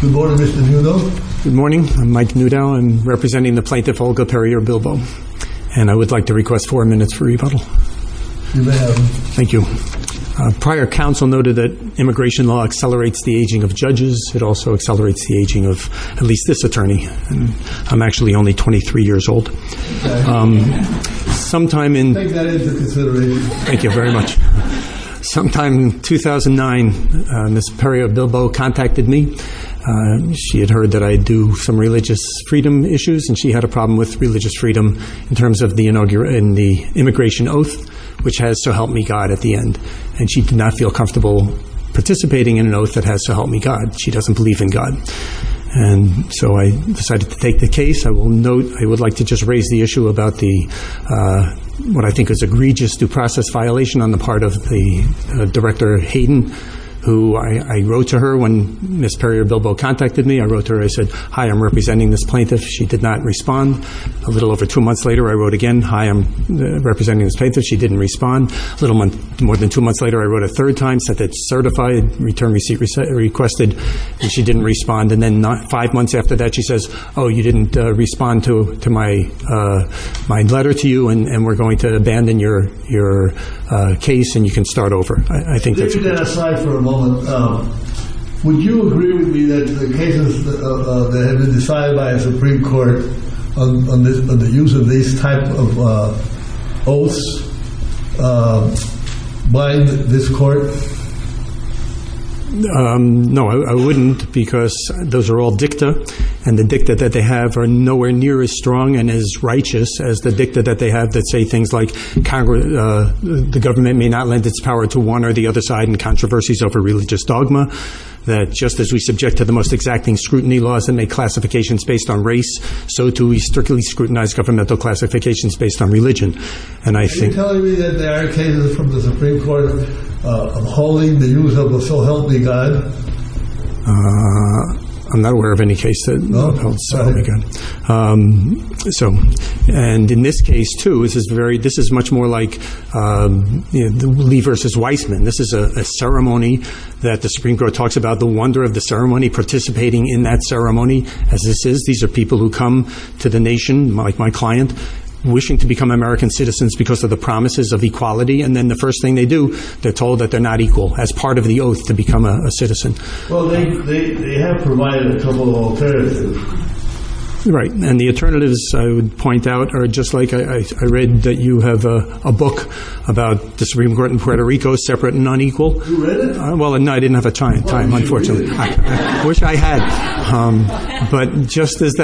Good morning, Mr. Newdow. Good morning. I'm Mike Newdow. I'm representing the plaintiff Olga Perrier-Bilbo, and I would like to request four minutes for rebuttal. You may have them. Thank you. Prior counsel noted that immigration law accelerates the aging of judges. It also accelerates the aging of at least this attorney. I'm actually only 23 years old. Take that into consideration. Thank you very much. Sometime in 2009, Ms. Perrier-Bilbo contacted me. She had heard that I do some religious freedom issues, and she had a problem with religious freedom in terms of the immigration oath, which has to help me God at the end. And she did not feel comfortable participating in an oath that has to help me God. She doesn't believe in God. And so I decided to take the case. I will note I would like to just raise the issue about the, what I think is, an egregious due process violation on the part of the Director Hayden, who I wrote to her when Ms. Perrier-Bilbo contacted me. I wrote to her. I said, hi, I'm representing this plaintiff. She did not respond. A little over two months later, I wrote again, hi, I'm representing this plaintiff. She didn't respond. A little more than two months later, I wrote a third time, said it's certified, return receipt requested, and she didn't respond. And then five months after that, she says, oh, you didn't respond to my letter to you, and we're going to abandon your case, and you can start over. I think that's what happened. Leave that aside for a moment. Would you agree with me that the cases that have been decided by a Supreme Court on the use of these type of oaths bind this Court? No, I wouldn't, because those are all dicta, and the dicta that they have are nowhere near as strong and as righteous as the dicta that they have that say things like the government may not lend its power to one or the other side in controversies over religious dogma, that just as we subject to the most exacting scrutiny laws and make classifications based on race, so, too, we strictly scrutinize governmental classifications based on religion. Are you telling me that there are cases from the Supreme Court upholding the use of the So Help Me God? I'm not aware of any case that upholds So Help Me God. And in this case, too, this is much more like Lee v. Weissman. This is a ceremony that the Supreme Court talks about the wonder of the ceremony, participating in that ceremony as this is. These are people who come to the nation, like my client, wishing to become American citizens because of the promises of equality, and then the first thing they do, they're told that they're not equal as part of the oath to become a citizen. Well, they have provided a couple of alternatives. Right, and the alternatives, I would point out, are just like I read that you have a book about the Supreme Court in Puerto Rico, Separate and Unequal. You read it? Well, no, I didn't have the time, unfortunately. I wish I had. But just as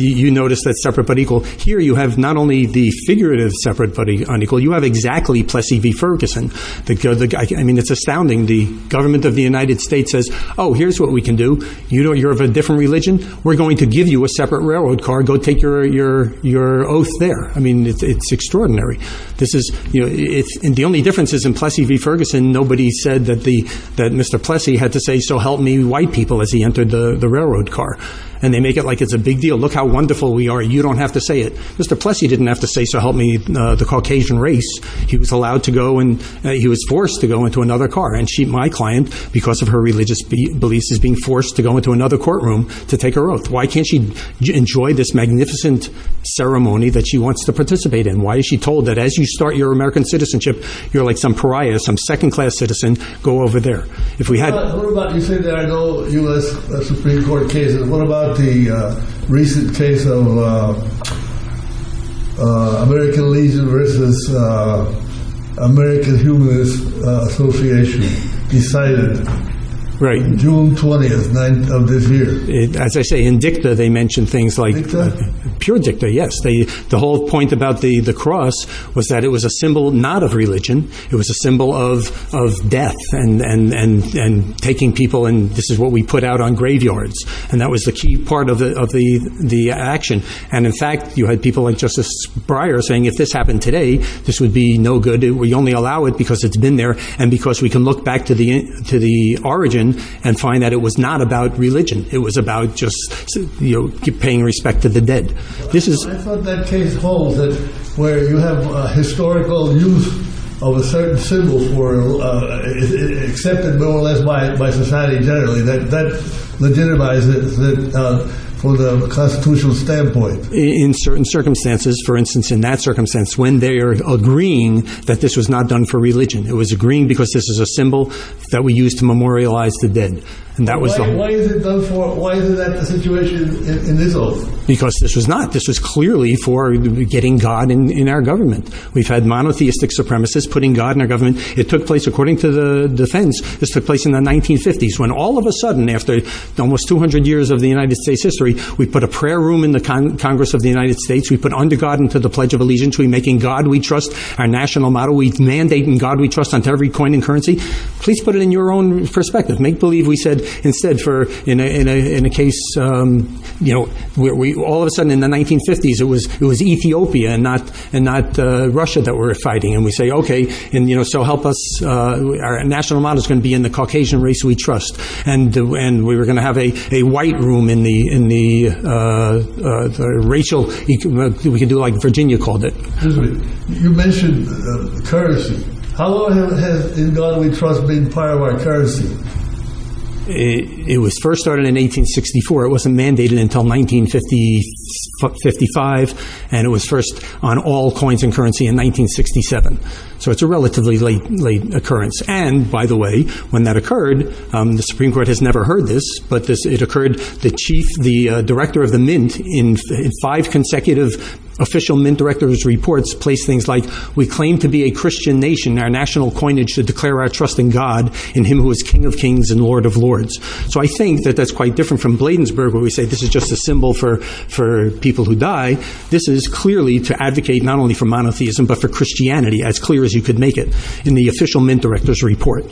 you notice that separate but equal, here you have not only the figurative separate but unequal, you have exactly Plessy v. Ferguson. I mean, it's astounding. The government of the United States says, oh, here's what we can do. You're of a different religion. We're going to give you a separate railroad car. Go take your oath there. I mean, it's extraordinary. The only difference is in Plessy v. Ferguson, nobody said that Mr. Plessy had to say, so help me, white people, as he entered the railroad car. And they make it like it's a big deal. Look how wonderful we are. You don't have to say it. Mr. Plessy didn't have to say, so help me, the Caucasian race. He was allowed to go and he was forced to go into another car. And my client, because of her religious beliefs, is being forced to go into another courtroom to take her oath. Why can't she enjoy this magnificent ceremony that she wants to participate in? Why is she told that as you start your American citizenship, you're like some pariah, some second-class citizen. Go over there. You said that I know U.S. Supreme Court cases. What about the recent case of American Legion versus American Humanist Association? Decided June 20th of this year. As I say, in dicta they mention things like... Pure dicta, yes. The whole point about the cross was that it was a symbol not of religion. It was a symbol of death and taking people, and this is what we put out on graveyards. And that was the key part of the action. And in fact, you had people like Justice Breyer saying, if this happened today, this would be no good. We only allow it because it's been there and because we can look back to the origin and find that it was not about religion. It was about just paying respect to the dead. I thought that case holds, where you have historical use of a certain symbol accepted more or less by society generally. That legitimizes it from the constitutional standpoint. In certain circumstances, for instance in that circumstance, when they are agreeing that this was not done for religion. It was agreeing because this is a symbol that we use to memorialize the dead. And that was the whole... Why is that the situation in this oath? Because this was not. This was clearly for getting God in our government. We've had monotheistic supremacists putting God in our government. It took place, according to the defense, this took place in the 1950s. When all of a sudden, after almost 200 years of the United States' history, we put a prayer room in the Congress of the United States. We put under God into the Pledge of Allegiance. We're making God we trust our national model. We're mandating God we trust onto every coin and currency. Please put it in your own perspective. Make believe we said, instead, in a case... All of a sudden, in the 1950s, it was Ethiopia and not Russia that were fighting. And we say, okay, so help us. Our national model is going to be in the Caucasian race we trust. And we were going to have a white room in the racial... We could do like Virginia called it. Excuse me. You mentioned currency. How long has in God we trust been part of our currency? It was first started in 1864. It wasn't mandated until 1955. And it was first on all coins and currency in 1967. So it's a relatively late occurrence. And, by the way, when that occurred, the Supreme Court has never heard this, but it occurred the director of the Mint, in five consecutive official Mint directors' reports, placed things like, we claim to be a Christian nation. Our national coinage should declare our trust in God, in him who is king of kings and lord of lords. So I think that that's quite different from Bladensburg, where we say this is just a symbol for people who die. This is clearly to advocate not only for monotheism, but for Christianity, as clear as you could make it, in the official Mint director's report.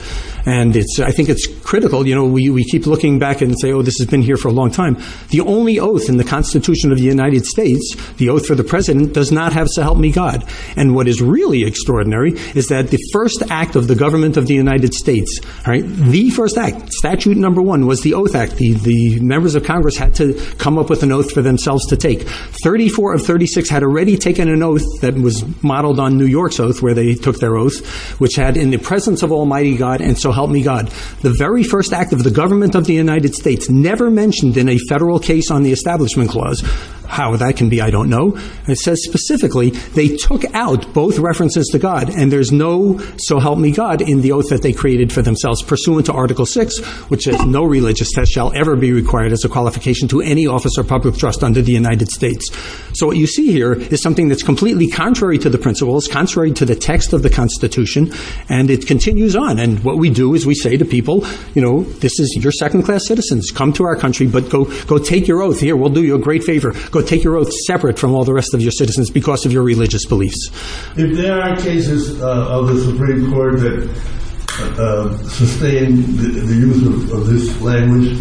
And I think it's critical. You know, we keep looking back and say, oh, this has been here for a long time. The only oath in the Constitution of the United States, the oath for the president, does not have to help me God. And what is really extraordinary is that the first act of the government of the United States, the first act, statute number one, was the Oath Act. The members of Congress had to come up with an oath for themselves to take. 34 of 36 had already taken an oath that was modeled on New York's oath, where they took their oath, which had in the presence of almighty God, and so help me God. The very first act of the government of the United States never mentioned in a federal case on the Establishment Clause, how that can be, I don't know, it says specifically they took out both references to God and there's no so help me God in the oath that they created for themselves, pursuant to Article VI, which is no religious test shall ever be required as a qualification to any office or public trust under the United States. So what you see here is something that's completely contrary to the principles, contrary to the text of the Constitution, and it continues on. And what we do is we say to people, you know, this is your second class citizens, come to our country, but go take your oath here, we'll do you a great favor. Go take your oath separate from all the rest of your citizens because of your religious beliefs. If there are cases of the Supreme Court that sustain the use of this language,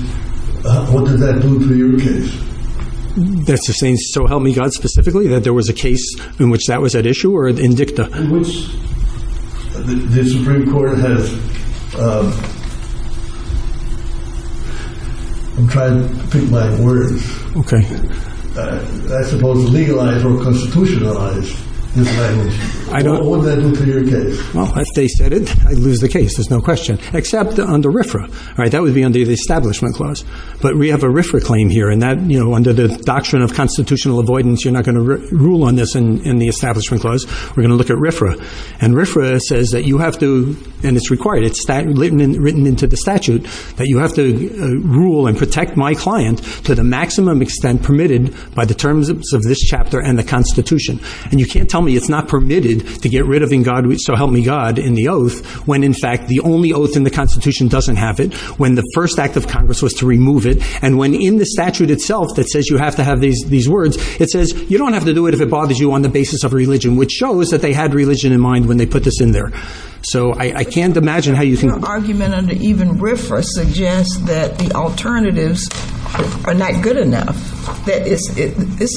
what does that do to your case? That sustains, so help me God, specifically, that there was a case in which that was at issue or in dicta? In which the Supreme Court has... I'm trying to pick my words. Okay. I suppose legalized or constitutionalized this language. I don't... What does that do to your case? Well, if they said it, I'd lose the case, there's no question. Except under RFRA. All right, that would be under the Establishment Clause. But we have a RFRA claim here and that, you know, under the doctrine of constitutional avoidance, you're not going to rule on this in the Establishment Clause. We're going to look at RFRA. And RFRA says that you have to, and it's required, it's written into the statute, that you have to rule and protect my client to the maximum extent permitted by the terms of this chapter and the Constitution. And you can't tell me it's not permitted to get rid of in God, so help me God, in the oath when, in fact, the only oath in the Constitution doesn't have it, when the first act of Congress was to remove it, and when in the statute itself that says you have to have these words, it says, you don't have to do it if it bothers you on the basis of religion, which shows that they had religion in mind when they put this in there. So I can't imagine how you can... Your argument under even RFRA suggests that the alternatives are not good enough, that this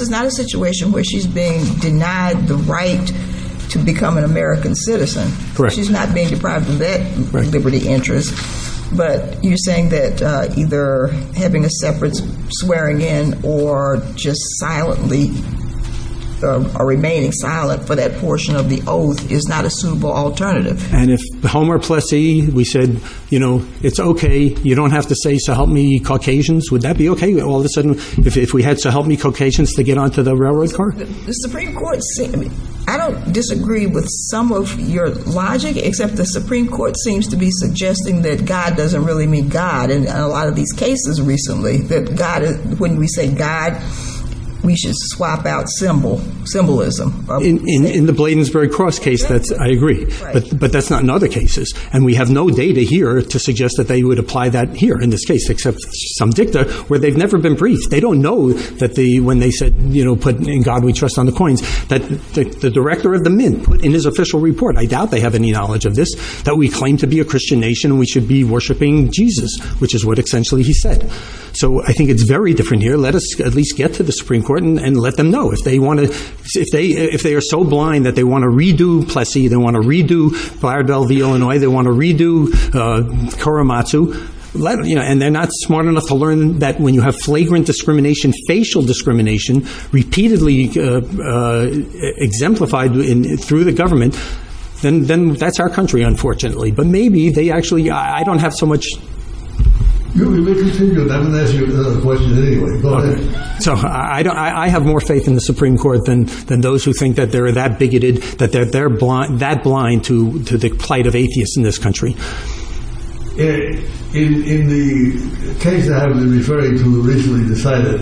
is not a situation where she's being denied the right to become an American citizen. Correct. She's not being deprived of that liberty interest. But you're saying that either having a separate swearing-in or just silently, or remaining silent for that portion of the oath is not a suitable alternative. And if Homer plus E, we said, you know, it's okay, you don't have to say, so help me, Caucasians, would that be okay? All of a sudden, if we had to help me, Caucasians, to get onto the railroad car? The Supreme Court... I don't disagree with some of your logic, except the Supreme Court seems to be suggesting that God doesn't really mean God. In a lot of these cases recently, when we say God, we should swap out symbolism. In the Bladensburg Cross case, I agree. But that's not in other cases. And we have no data here to suggest that they would apply that here in this case, except some dicta where they've never been briefed. They don't know that when they said, you know, put, in God we trust, on the coins, that the director of the men put in his official report, I doubt they have any knowledge of this, that we claim to be a Christian nation, and we should be worshipping Jesus, which is what, essentially, he said. So I think it's very different here. Let us at least get to the Supreme Court and let them know. If they want to... If they are so blind that they want to redo Plessy, they want to redo Firedale v. Illinois, they want to redo Korematsu, and they're not smart enough to learn that when you have flagrant discrimination, facial discrimination, repeatedly exemplified through the government, then that's our country, unfortunately. But maybe they actually... I don't have so much... You may continue, but I'm going to ask you another question anyway. Go ahead. So I have more faith in the Supreme Court than those who think that they're that bigoted, that they're that blind to the plight of atheists in this country. In the case that I've been referring to, recently decided,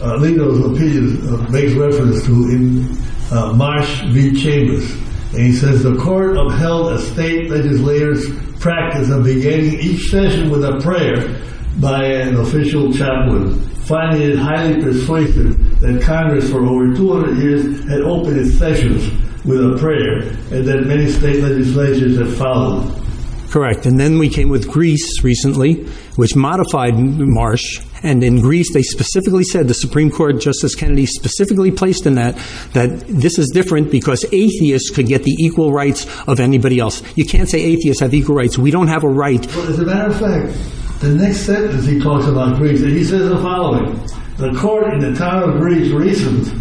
Lindell's opinion makes reference to in Marsh v. Chambers, and he says, the Court upheld a state legislator's practice of beginning each session with a prayer by an official chaplain, finding it highly persuasive that Congress for over 200 years had opened its sessions with a prayer and that many state legislatures have followed. Correct. And then we came with Greece recently, which modified Marsh, and in Greece they specifically said, the Supreme Court, Justice Kennedy, specifically placed in that that this is different because atheists could get the equal rights of anybody else. You can't say atheists have equal rights. We don't have a right. Well, as a matter of fact, the next sentence he talks about Greece, and he says the following, the Court in the town of Greece reasons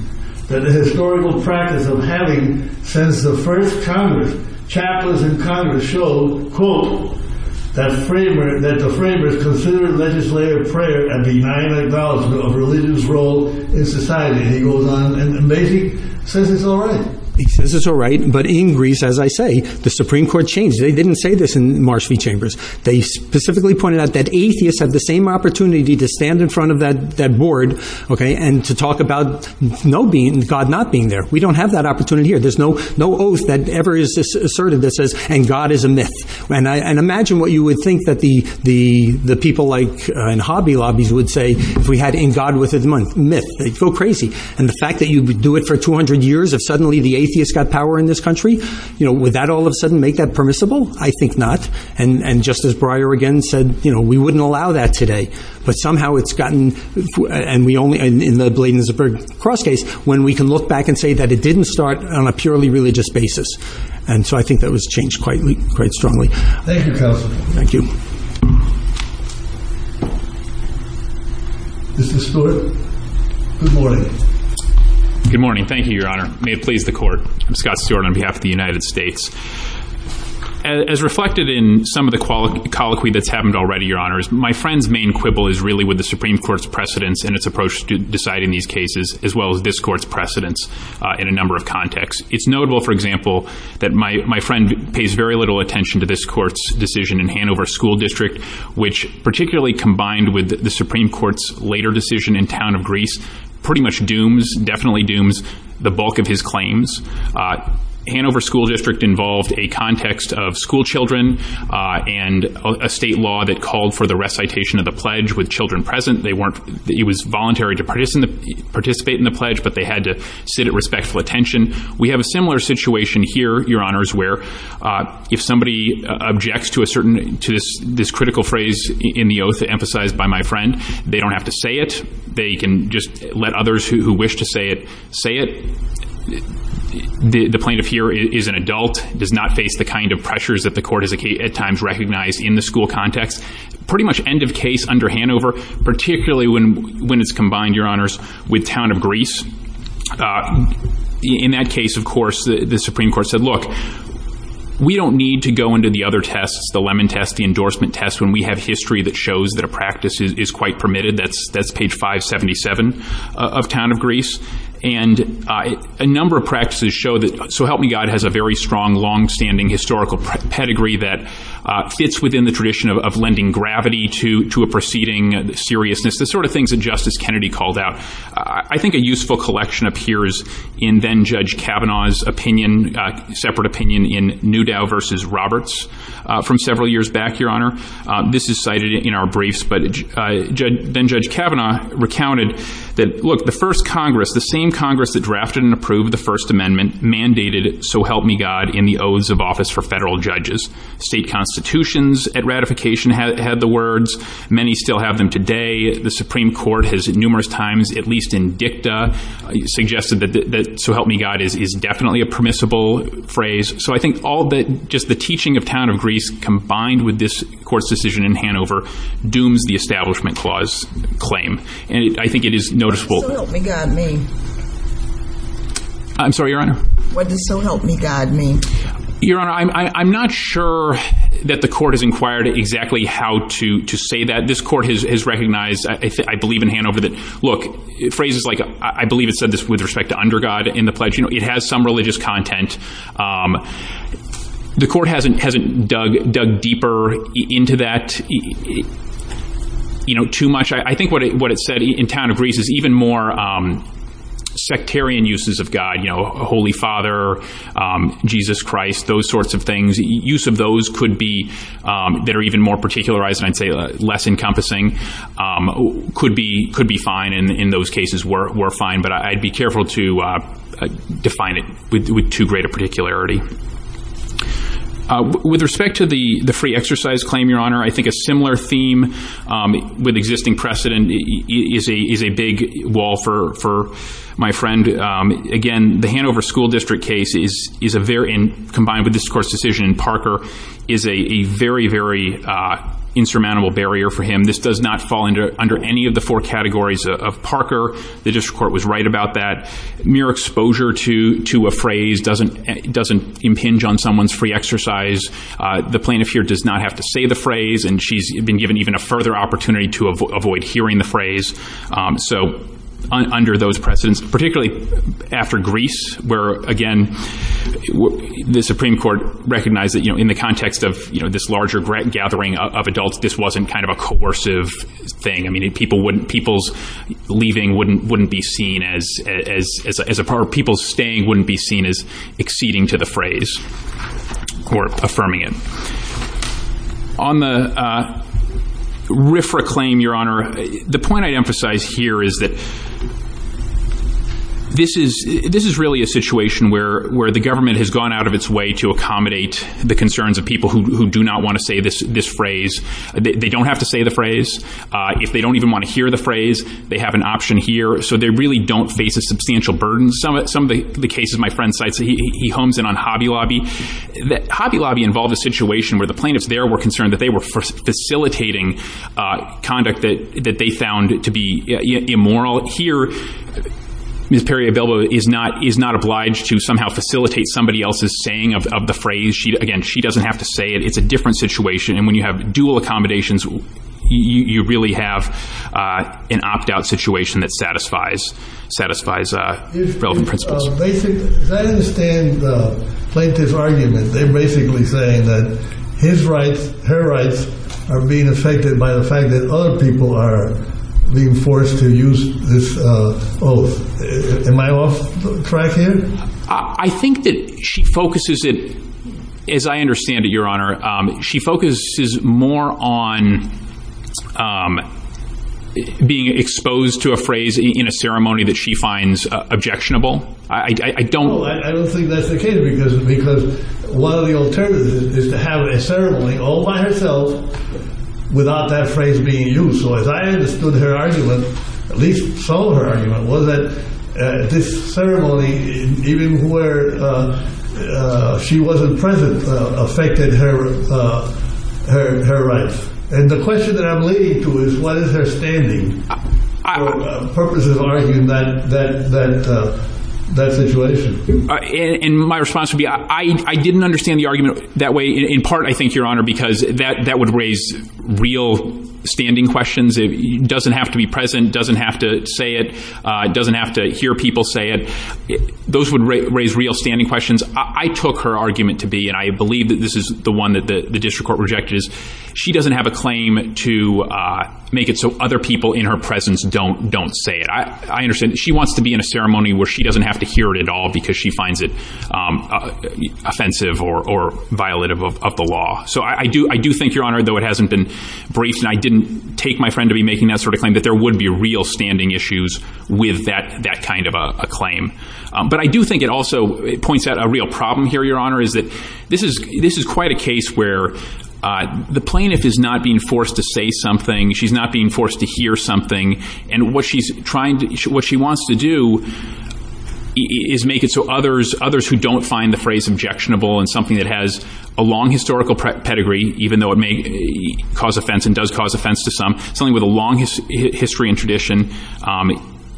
that the historical practice of having, since the first Congress, chaplains in Congress, show, quote, that the framers considered legislative prayer a benign acknowledgment of religion's role in society. And he goes on. And maybe he says it's all right. He says it's all right, but in Greece, as I say, the Supreme Court changed. They didn't say this in Marsh v. Chambers. They specifically pointed out that atheists have the same opportunity to stand in front of that board and to talk about God not being there. We don't have that opportunity here. There's no oath that ever is asserted that says, and God is a myth. And imagine what you would think that the people in hobby lobbies would say if we had, in God with his mouth, myth. They'd go crazy. And the fact that you would do it for 200 years if suddenly the atheists got power in this country, you know, would that all of a sudden make that permissible? I think not. And Justice Breyer again said, you know, we wouldn't allow that today. But somehow it's gotten, and we only, and the Bladen is a very cross case, when we can look back and say that it didn't start on a purely religious basis. And so I think that was changed quite strongly. Thank you, Counselor. Thank you. Mr. Stewart. Good morning. Good morning. Thank you, Your Honor. May it please the Court. I'm Scott Stewart on behalf of the United States. As reflected in some of the colloquy that's happened already, Your Honor, is my friend's main quibble is really with the Supreme Court's precedence in its approach to deciding these cases, as well as this Court's precedence in a number of contexts. It's notable, for example, that my friend pays very little attention to this Court's decision in Hanover School District, which, particularly combined with the Supreme Court's later decision in town of Greece, pretty much dooms, definitely dooms, the bulk of his claims. Hanover School District involved a context of school children and a state law that called for the recitation of the pledge with children present. They weren't, it was voluntary to participate in the pledge, but they had to sit at respectful attention. We have a similar situation here, Your Honors, where if somebody objects to a certain, to this critical phrase in the oath emphasized by my friend, they don't have to say it. They can just let others who wish to say it, say it. The plaintiff here is an adult, does not face the kind of pressures that the Court has at times recognized in the school context. Pretty much end of case under Hanover, particularly when it's combined, Your Honors, with town of Greece. In that case, of course, the Supreme Court said, look, we don't need to go into the other tests, the Lemon Test, the Endorsement Test, when we have history that shows that a practice is quite permitted. That's page 577 of town of Greece. And a number of practices show that, so help me God, has a very strong, long-standing historical pedigree that fits within the tradition of lending gravity to a proceeding seriousness, the sort of things that Justice Kennedy called out. I think a useful collection appears in then-Judge Kavanaugh's opinion, separate opinion in Newdow v. Roberts from several years back, Your Honor. This is cited in our briefs, but then-Judge Kavanaugh recounted that, look, the first Congress, the same Congress that drafted and approved the First Amendment, mandated, so help me God, in the oaths of office for federal judges. State constitutions at ratification had the words. Many still have them today. The Supreme Court has numerous times, at least in dicta, suggested that, so help me God, is definitely a permissible phrase. So I think all the, just the teaching of talent of Greece combined with this Court's decision in Hanover dooms the Establishment Clause claim, and I think it is noticeable. What does so help me God mean? I'm sorry, Your Honor? What does so help me God mean? Your Honor, I'm not sure that the Court has inquired exactly how to say that. This Court has recognized, I believe in Hanover, that, look, phrases like, I believe it said this with respect to under God in the pledge, you know, it has some religious content. The Court hasn't dug deeper into that, you know, too much. I think what it said in town of Greece is even more sectarian uses of God, you know, Holy Father, Jesus Christ, those sorts of things. Use of those could be, that are even more particularized, and I'd say less encompassing, could be fine, and in those cases were fine, but I'd be careful to define it with too great a particularity. With respect to the free exercise claim, Your Honor, I think a similar theme with existing precedent is a big wall for my friend. Again, the Hanover School District case is a very, combined with this Court's decision in Parker, is a very, very insurmountable barrier for him. This does not fall under any of the four categories of Parker. The District Court was right about that. Mere exposure to a phrase doesn't impinge on someone's free exercise. The plaintiff here does not have to say the phrase, and she's been given even a further opportunity to avoid hearing the phrase. So, under those precedents, particularly after Greece, where, again, the Supreme Court recognized that, you know, in the context of, you know, this larger gathering of adults, this wasn't kind of a coercive thing. I mean, people wouldn't, people's leaving wouldn't be seen as a part, people's staying wouldn't be seen as exceeding to the phrase or affirming it. On the RFRA claim, Your Honor, the point I'd emphasize here is that this is really a situation where the government has gone out of its way to accommodate the concerns of people who do not want to say this phrase. They don't have to say the phrase. If they don't even want to hear the phrase, they have an option here. So they really don't face a substantial burden. Some of the cases my friend cites, he homes in on Hobby Lobby. Hobby Lobby involved a situation where the plaintiffs there were concerned that they were facilitating conduct that they found to be immoral. Here, Ms. Perry-Abelo is not obliged to somehow facilitate somebody else's saying of the phrase. Again, she doesn't have to say it. It's a different situation, and when you have dual accommodations, you really have an opt-out situation that satisfies relevant principles. As I understand the plaintiff's argument, they're basically saying that her rights are being affected by the fact that other people are being forced to use this oath. Am I off track here? I think that she focuses it, as I understand it, Your Honor, she focuses more on being exposed to a phrase in a ceremony that she finds objectionable. I don't... No, I don't think that's the case because one of the alternatives is to have a ceremony all by herself without that phrase being used. So as I understood her argument, at least some of her argument, was that this ceremony, even where she wasn't present, affected her rights. And the question that I'm leading to is what is her standing for purposes of arguing that situation? And my response would be I didn't understand the argument that way, in part, I think, Your Honor, because that would raise real standing questions. It doesn't have to be present. It doesn't have to say it. It doesn't have to hear people say it. Those would raise real standing questions. I took her argument to be, and I believe that this is the one that the district court rejected, is she doesn't have a claim to make it so other people in her presence don't say it. I understand she wants to be in a ceremony where she doesn't have to hear it at all because she finds it offensive or violative of the law. So I do think, Your Honor, though it hasn't been briefed and I didn't take my friend to be making that sort of claim, that there would be real standing issues with that kind of a claim. But I do think it also points out a real problem here, Your Honor, is that this is quite a case where the plaintiff is not being forced to say something. She's not being forced to hear something. And what she wants to do is make it so others who don't find the phrase objectionable and something that has a long historical pedigree, even though it may cause offense and does cause offense to some, something with a long history and tradition,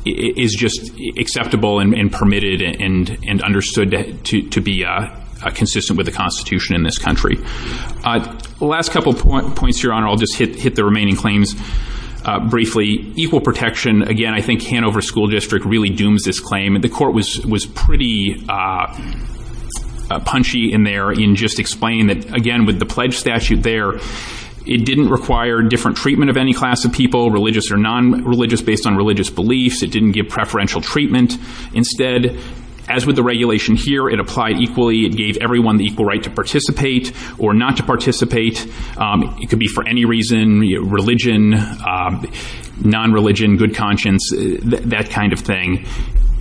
is just acceptable and permitted and understood to be consistent with the Constitution in this country. The last couple of points, Your Honor, I'll just hit the remaining claims briefly. Equal protection, again, I think Hanover School District really dooms this claim. The court was pretty punchy in there in just explaining that, again, with the pledge statute there, it didn't require different treatment of any class of people, religious or non-religious, based on religious beliefs. It didn't give preferential treatment. Instead, as with the regulation here, it applied equally. It gave everyone the equal right to participate or not to participate. It could be for any reason, religion, non-religion, good conscience, that kind of thing.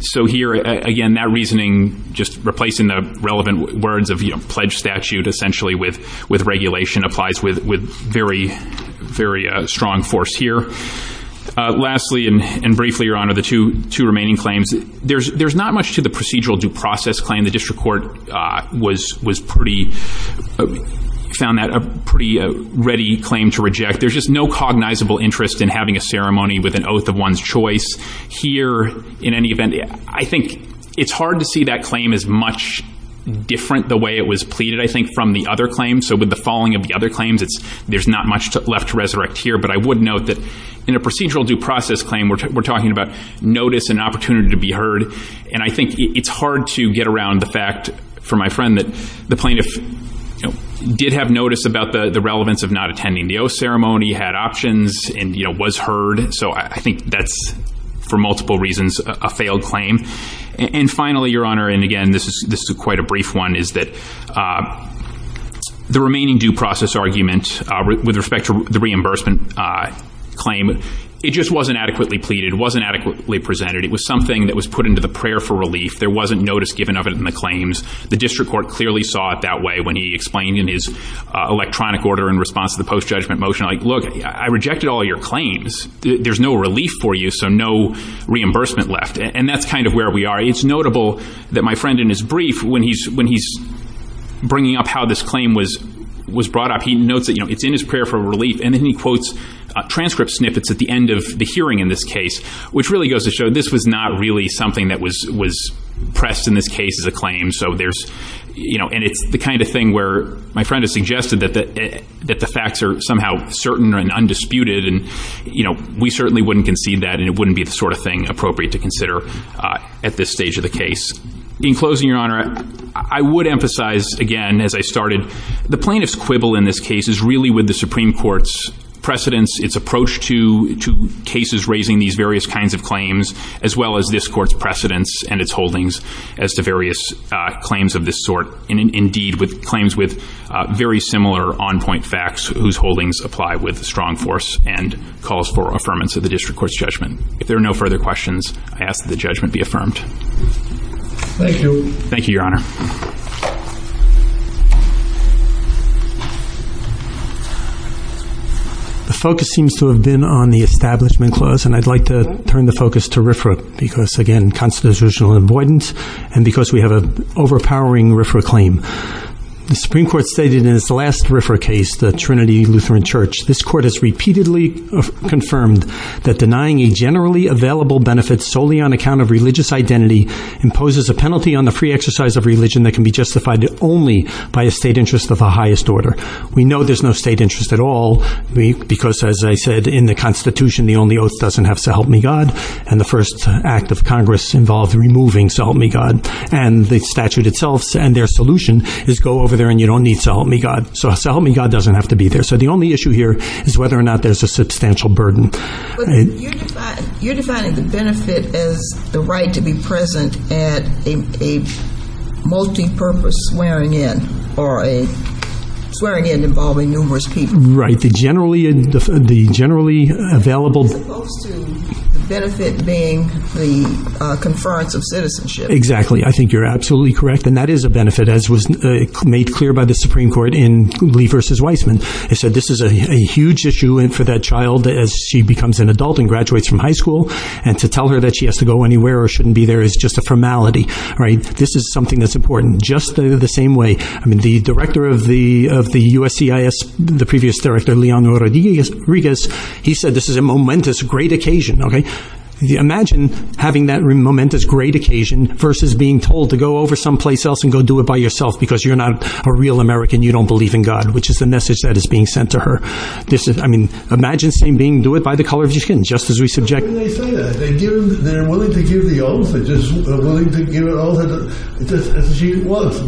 So here, again, that reasoning, just replacing the relevant words of pledge statute, essentially, with regulation applies with very, very strong force here. Lastly, and briefly, Your Honor, the two remaining claims, there's not much to the procedural due process claim. The district court was pretty, found that a pretty ready claim to reject. There's just no cognizable interest in having a ceremony with an oath of one's choice. Here, in any event, I think it's hard to see that claim as much different the way it was pleaded, I think, from the other claims. So with the falling of the other claims, there's not much left to resurrect here. But I would note that in a procedural due process claim, we're talking about notice and opportunity to be heard. And I think it's hard to get around the fact, for my friend, that the plaintiff did have notice about the relevance of not attending the oath ceremony, had options, and was heard. So I think that's, for multiple reasons, a failed claim. And finally, Your Honor, and again, this is quite a brief one, is that the remaining due process argument with respect to the reimbursement claim, it just wasn't adequately pleaded. It wasn't adequately presented. It was something that was put into the prayer for relief. There wasn't notice given of it in the claims. The district court clearly saw it that way when he explained in his electronic order in response to the post-judgment motion, like, look, I rejected all your claims. There's no relief for you, so no reimbursement left. And that's kind of where we are. It's notable that my friend, in his brief, when he's bringing up how this claim was brought up, he notes that, you know, it's in his prayer for relief. And then he quotes transcript snippets at the end of the hearing in this case, which really goes to show this was not really something that was pressed in this case as a claim. So there's, you know, and it's the kind of thing where my friend has suggested that the facts are somehow certain and undisputed, and, you know, we certainly wouldn't concede that, and it wouldn't be the sort of thing appropriate to consider at this stage of the case. In closing, Your Honor, I would emphasize again, as I started, the plaintiff's quibble in this case is really with the Supreme Court's precedence, its approach to cases raising these various kinds of claims, as well as this Court's precedence and its holdings as to various claims of this sort, and, indeed, with claims with very similar on-point facts whose holdings apply with strong force and calls for affirmance of the District Court's judgment. If there are no further questions, I ask that the judgment be affirmed. Thank you. Thank you, Your Honor. The focus seems to have been on the Establishment Clause, and I'd like to turn the focus to RFRA because, again, constitutional avoidance and because we have an overpowering RFRA claim. The Supreme Court stated in its last RFRA case, the Trinity Lutheran Church, this Court has repeatedly confirmed that denying a generally available benefit solely on account of religious identity imposes a penalty on the free exercise of religion that can be justified only by a state interest of the highest order. We know there's no state interest at all because, as I said, in the Constitution, the only oath doesn't have so help me God, and the first act of Congress involved removing so help me God, and the statute itself and their solution is go over there and you don't need so help me God. So, so help me God doesn't have to be there. So the only issue here is whether or not there's a substantial burden. You're defining the benefit as the right to be present at a multipurpose swearing-in or a swearing-in involving numerous people. Right. The generally available... As opposed to the benefit being the conference of citizenship. Exactly. I think you're absolutely correct, and that is a benefit as was made clear by the Supreme Court in Lee v. Weissman. It said this is a huge issue for that child as she becomes an adult and graduates from high school, and to tell her that she has to go anywhere or shouldn't be there is just a formality. This is something that's important just the same way the director of the USCIS, the previous director, Leon Rodriguez, he said this is a momentous, great occasion. Imagine having that momentous, great occasion versus being told to go over someplace else and go do it by yourself because you're not a real American, you don't believe in God, which is the message that is being sent to her. I mean, imagine being told do it by the color of your skin, just as we subject... They say that. They're willing to give the oath. They're willing to give the oath as she was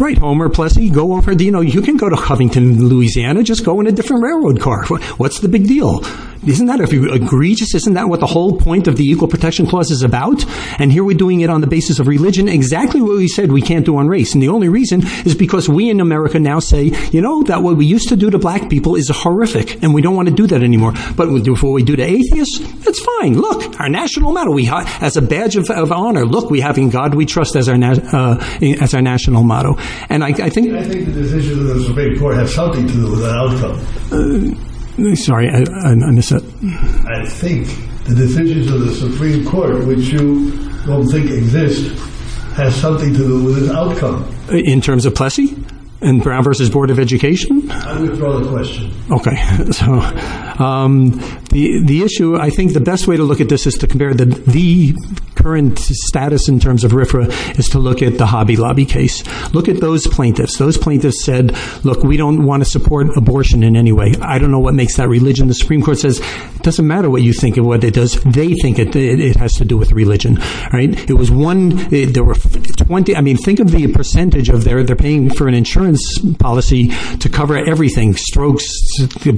Right. Homer Plessy, you know, you can go to Covington, Louisiana, just go in a different railroad car. What's the big deal? Isn't that egregious? Isn't that what the whole point of the Equal Protection Clause is about? And here we're doing it on the basis of religion, exactly what we said we can't do on race. And the only reason is because we in America now say, you know, that what we used to do to black people is horrific, and we don't want to do that anymore. But what we do to atheists, it's fine. Look, we have in God our national motto. As a badge of honor, look, we have in God we trust as our national motto. And I think... I think the decisions of the Supreme Court have something to do with the outcome. Sorry, I missed that. I think the decisions of the Supreme Court, which you don't think exist, have something to do with the outcome. In terms of Plessy? And Brown vs. Board of Education? I'm going to throw the question. Okay. So, the issue, I think, the best way to look at this is to compare the current status in terms of RFRA is to look at the Hobby Lobby case. Look at those plaintiffs. Those plaintiffs said, look, we don't want to support abortion in any way. I don't know what makes that religion. The Supreme Court says, it doesn't matter what you think of what it does. They think it has to do with religion, right? It was one... I mean, think of the percentage of their... They're paying for an insurance policy to cover everything, strokes,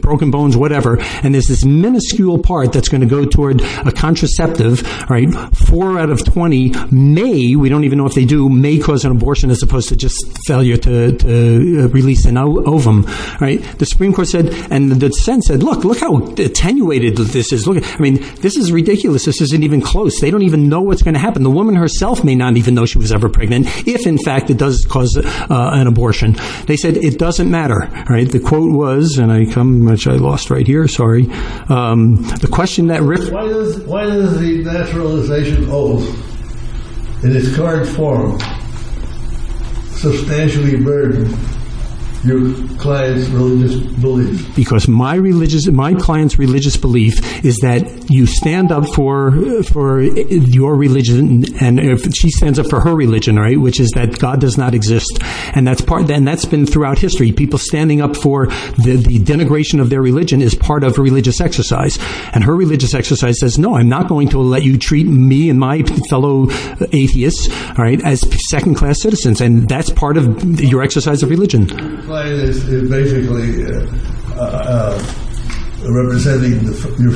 broken bones, whatever, and there's this minuscule part that's going to go toward a contraceptive, right? Four out of 20 may, we don't even know if they do, may cause an abortion as opposed to just failure to release an ovum, right? The Supreme Court said, and the defense said, look, look how attenuated this is. I mean, this is ridiculous. This isn't even close. They don't even know what's going to happen. The woman herself may not even know she was ever pregnant if, in fact, it does cause an abortion. They said, it doesn't matter, right? The quote was, and I come, which I lost right here, sorry. The question that Rick... Why does the naturalization oath in its current form substantially burden your client's religious belief? Because my religious, my client's religious belief is that you stand up for your religion and if she doesn't she stands up for her religion, right? Which is that God does not exist. And that's been throughout history. People standing up for the denigration of their religion is part of religious exercise. And her religious exercise says, no, I'm not going to let you treat me and my fellow as second-class citizens. And that's part of your exercise of religion. Your client is basically representing your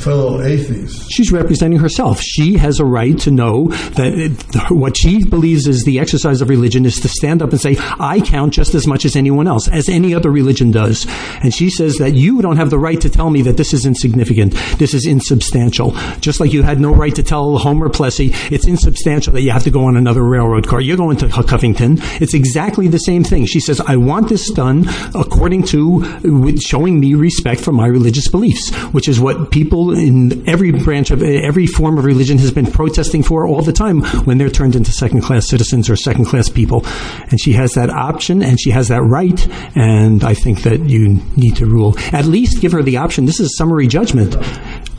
fellow atheists. She's representing herself. She has a right to know that what she believes is the exercise of religion is to stand up and say, I count just as much as anyone else. As any other religion does. And she says that, you don't have the right to tell me that this is insignificant. This is insubstantial. Just like you had no right to tell Homer Plessy it's insubstantial that you have to go on another railroad car. You're going to Covington. It's exactly the same thing. She says, I want this done according to showing me respect for my religious beliefs. Which is what people in every branch of every form of religion has been protesting for all the time when they're turned into second class citizens or second class people. And she has that option and she has that right and I think that you need to rule. At least give her the option. This is a summary judgment.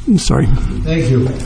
I'm sorry. Thank you.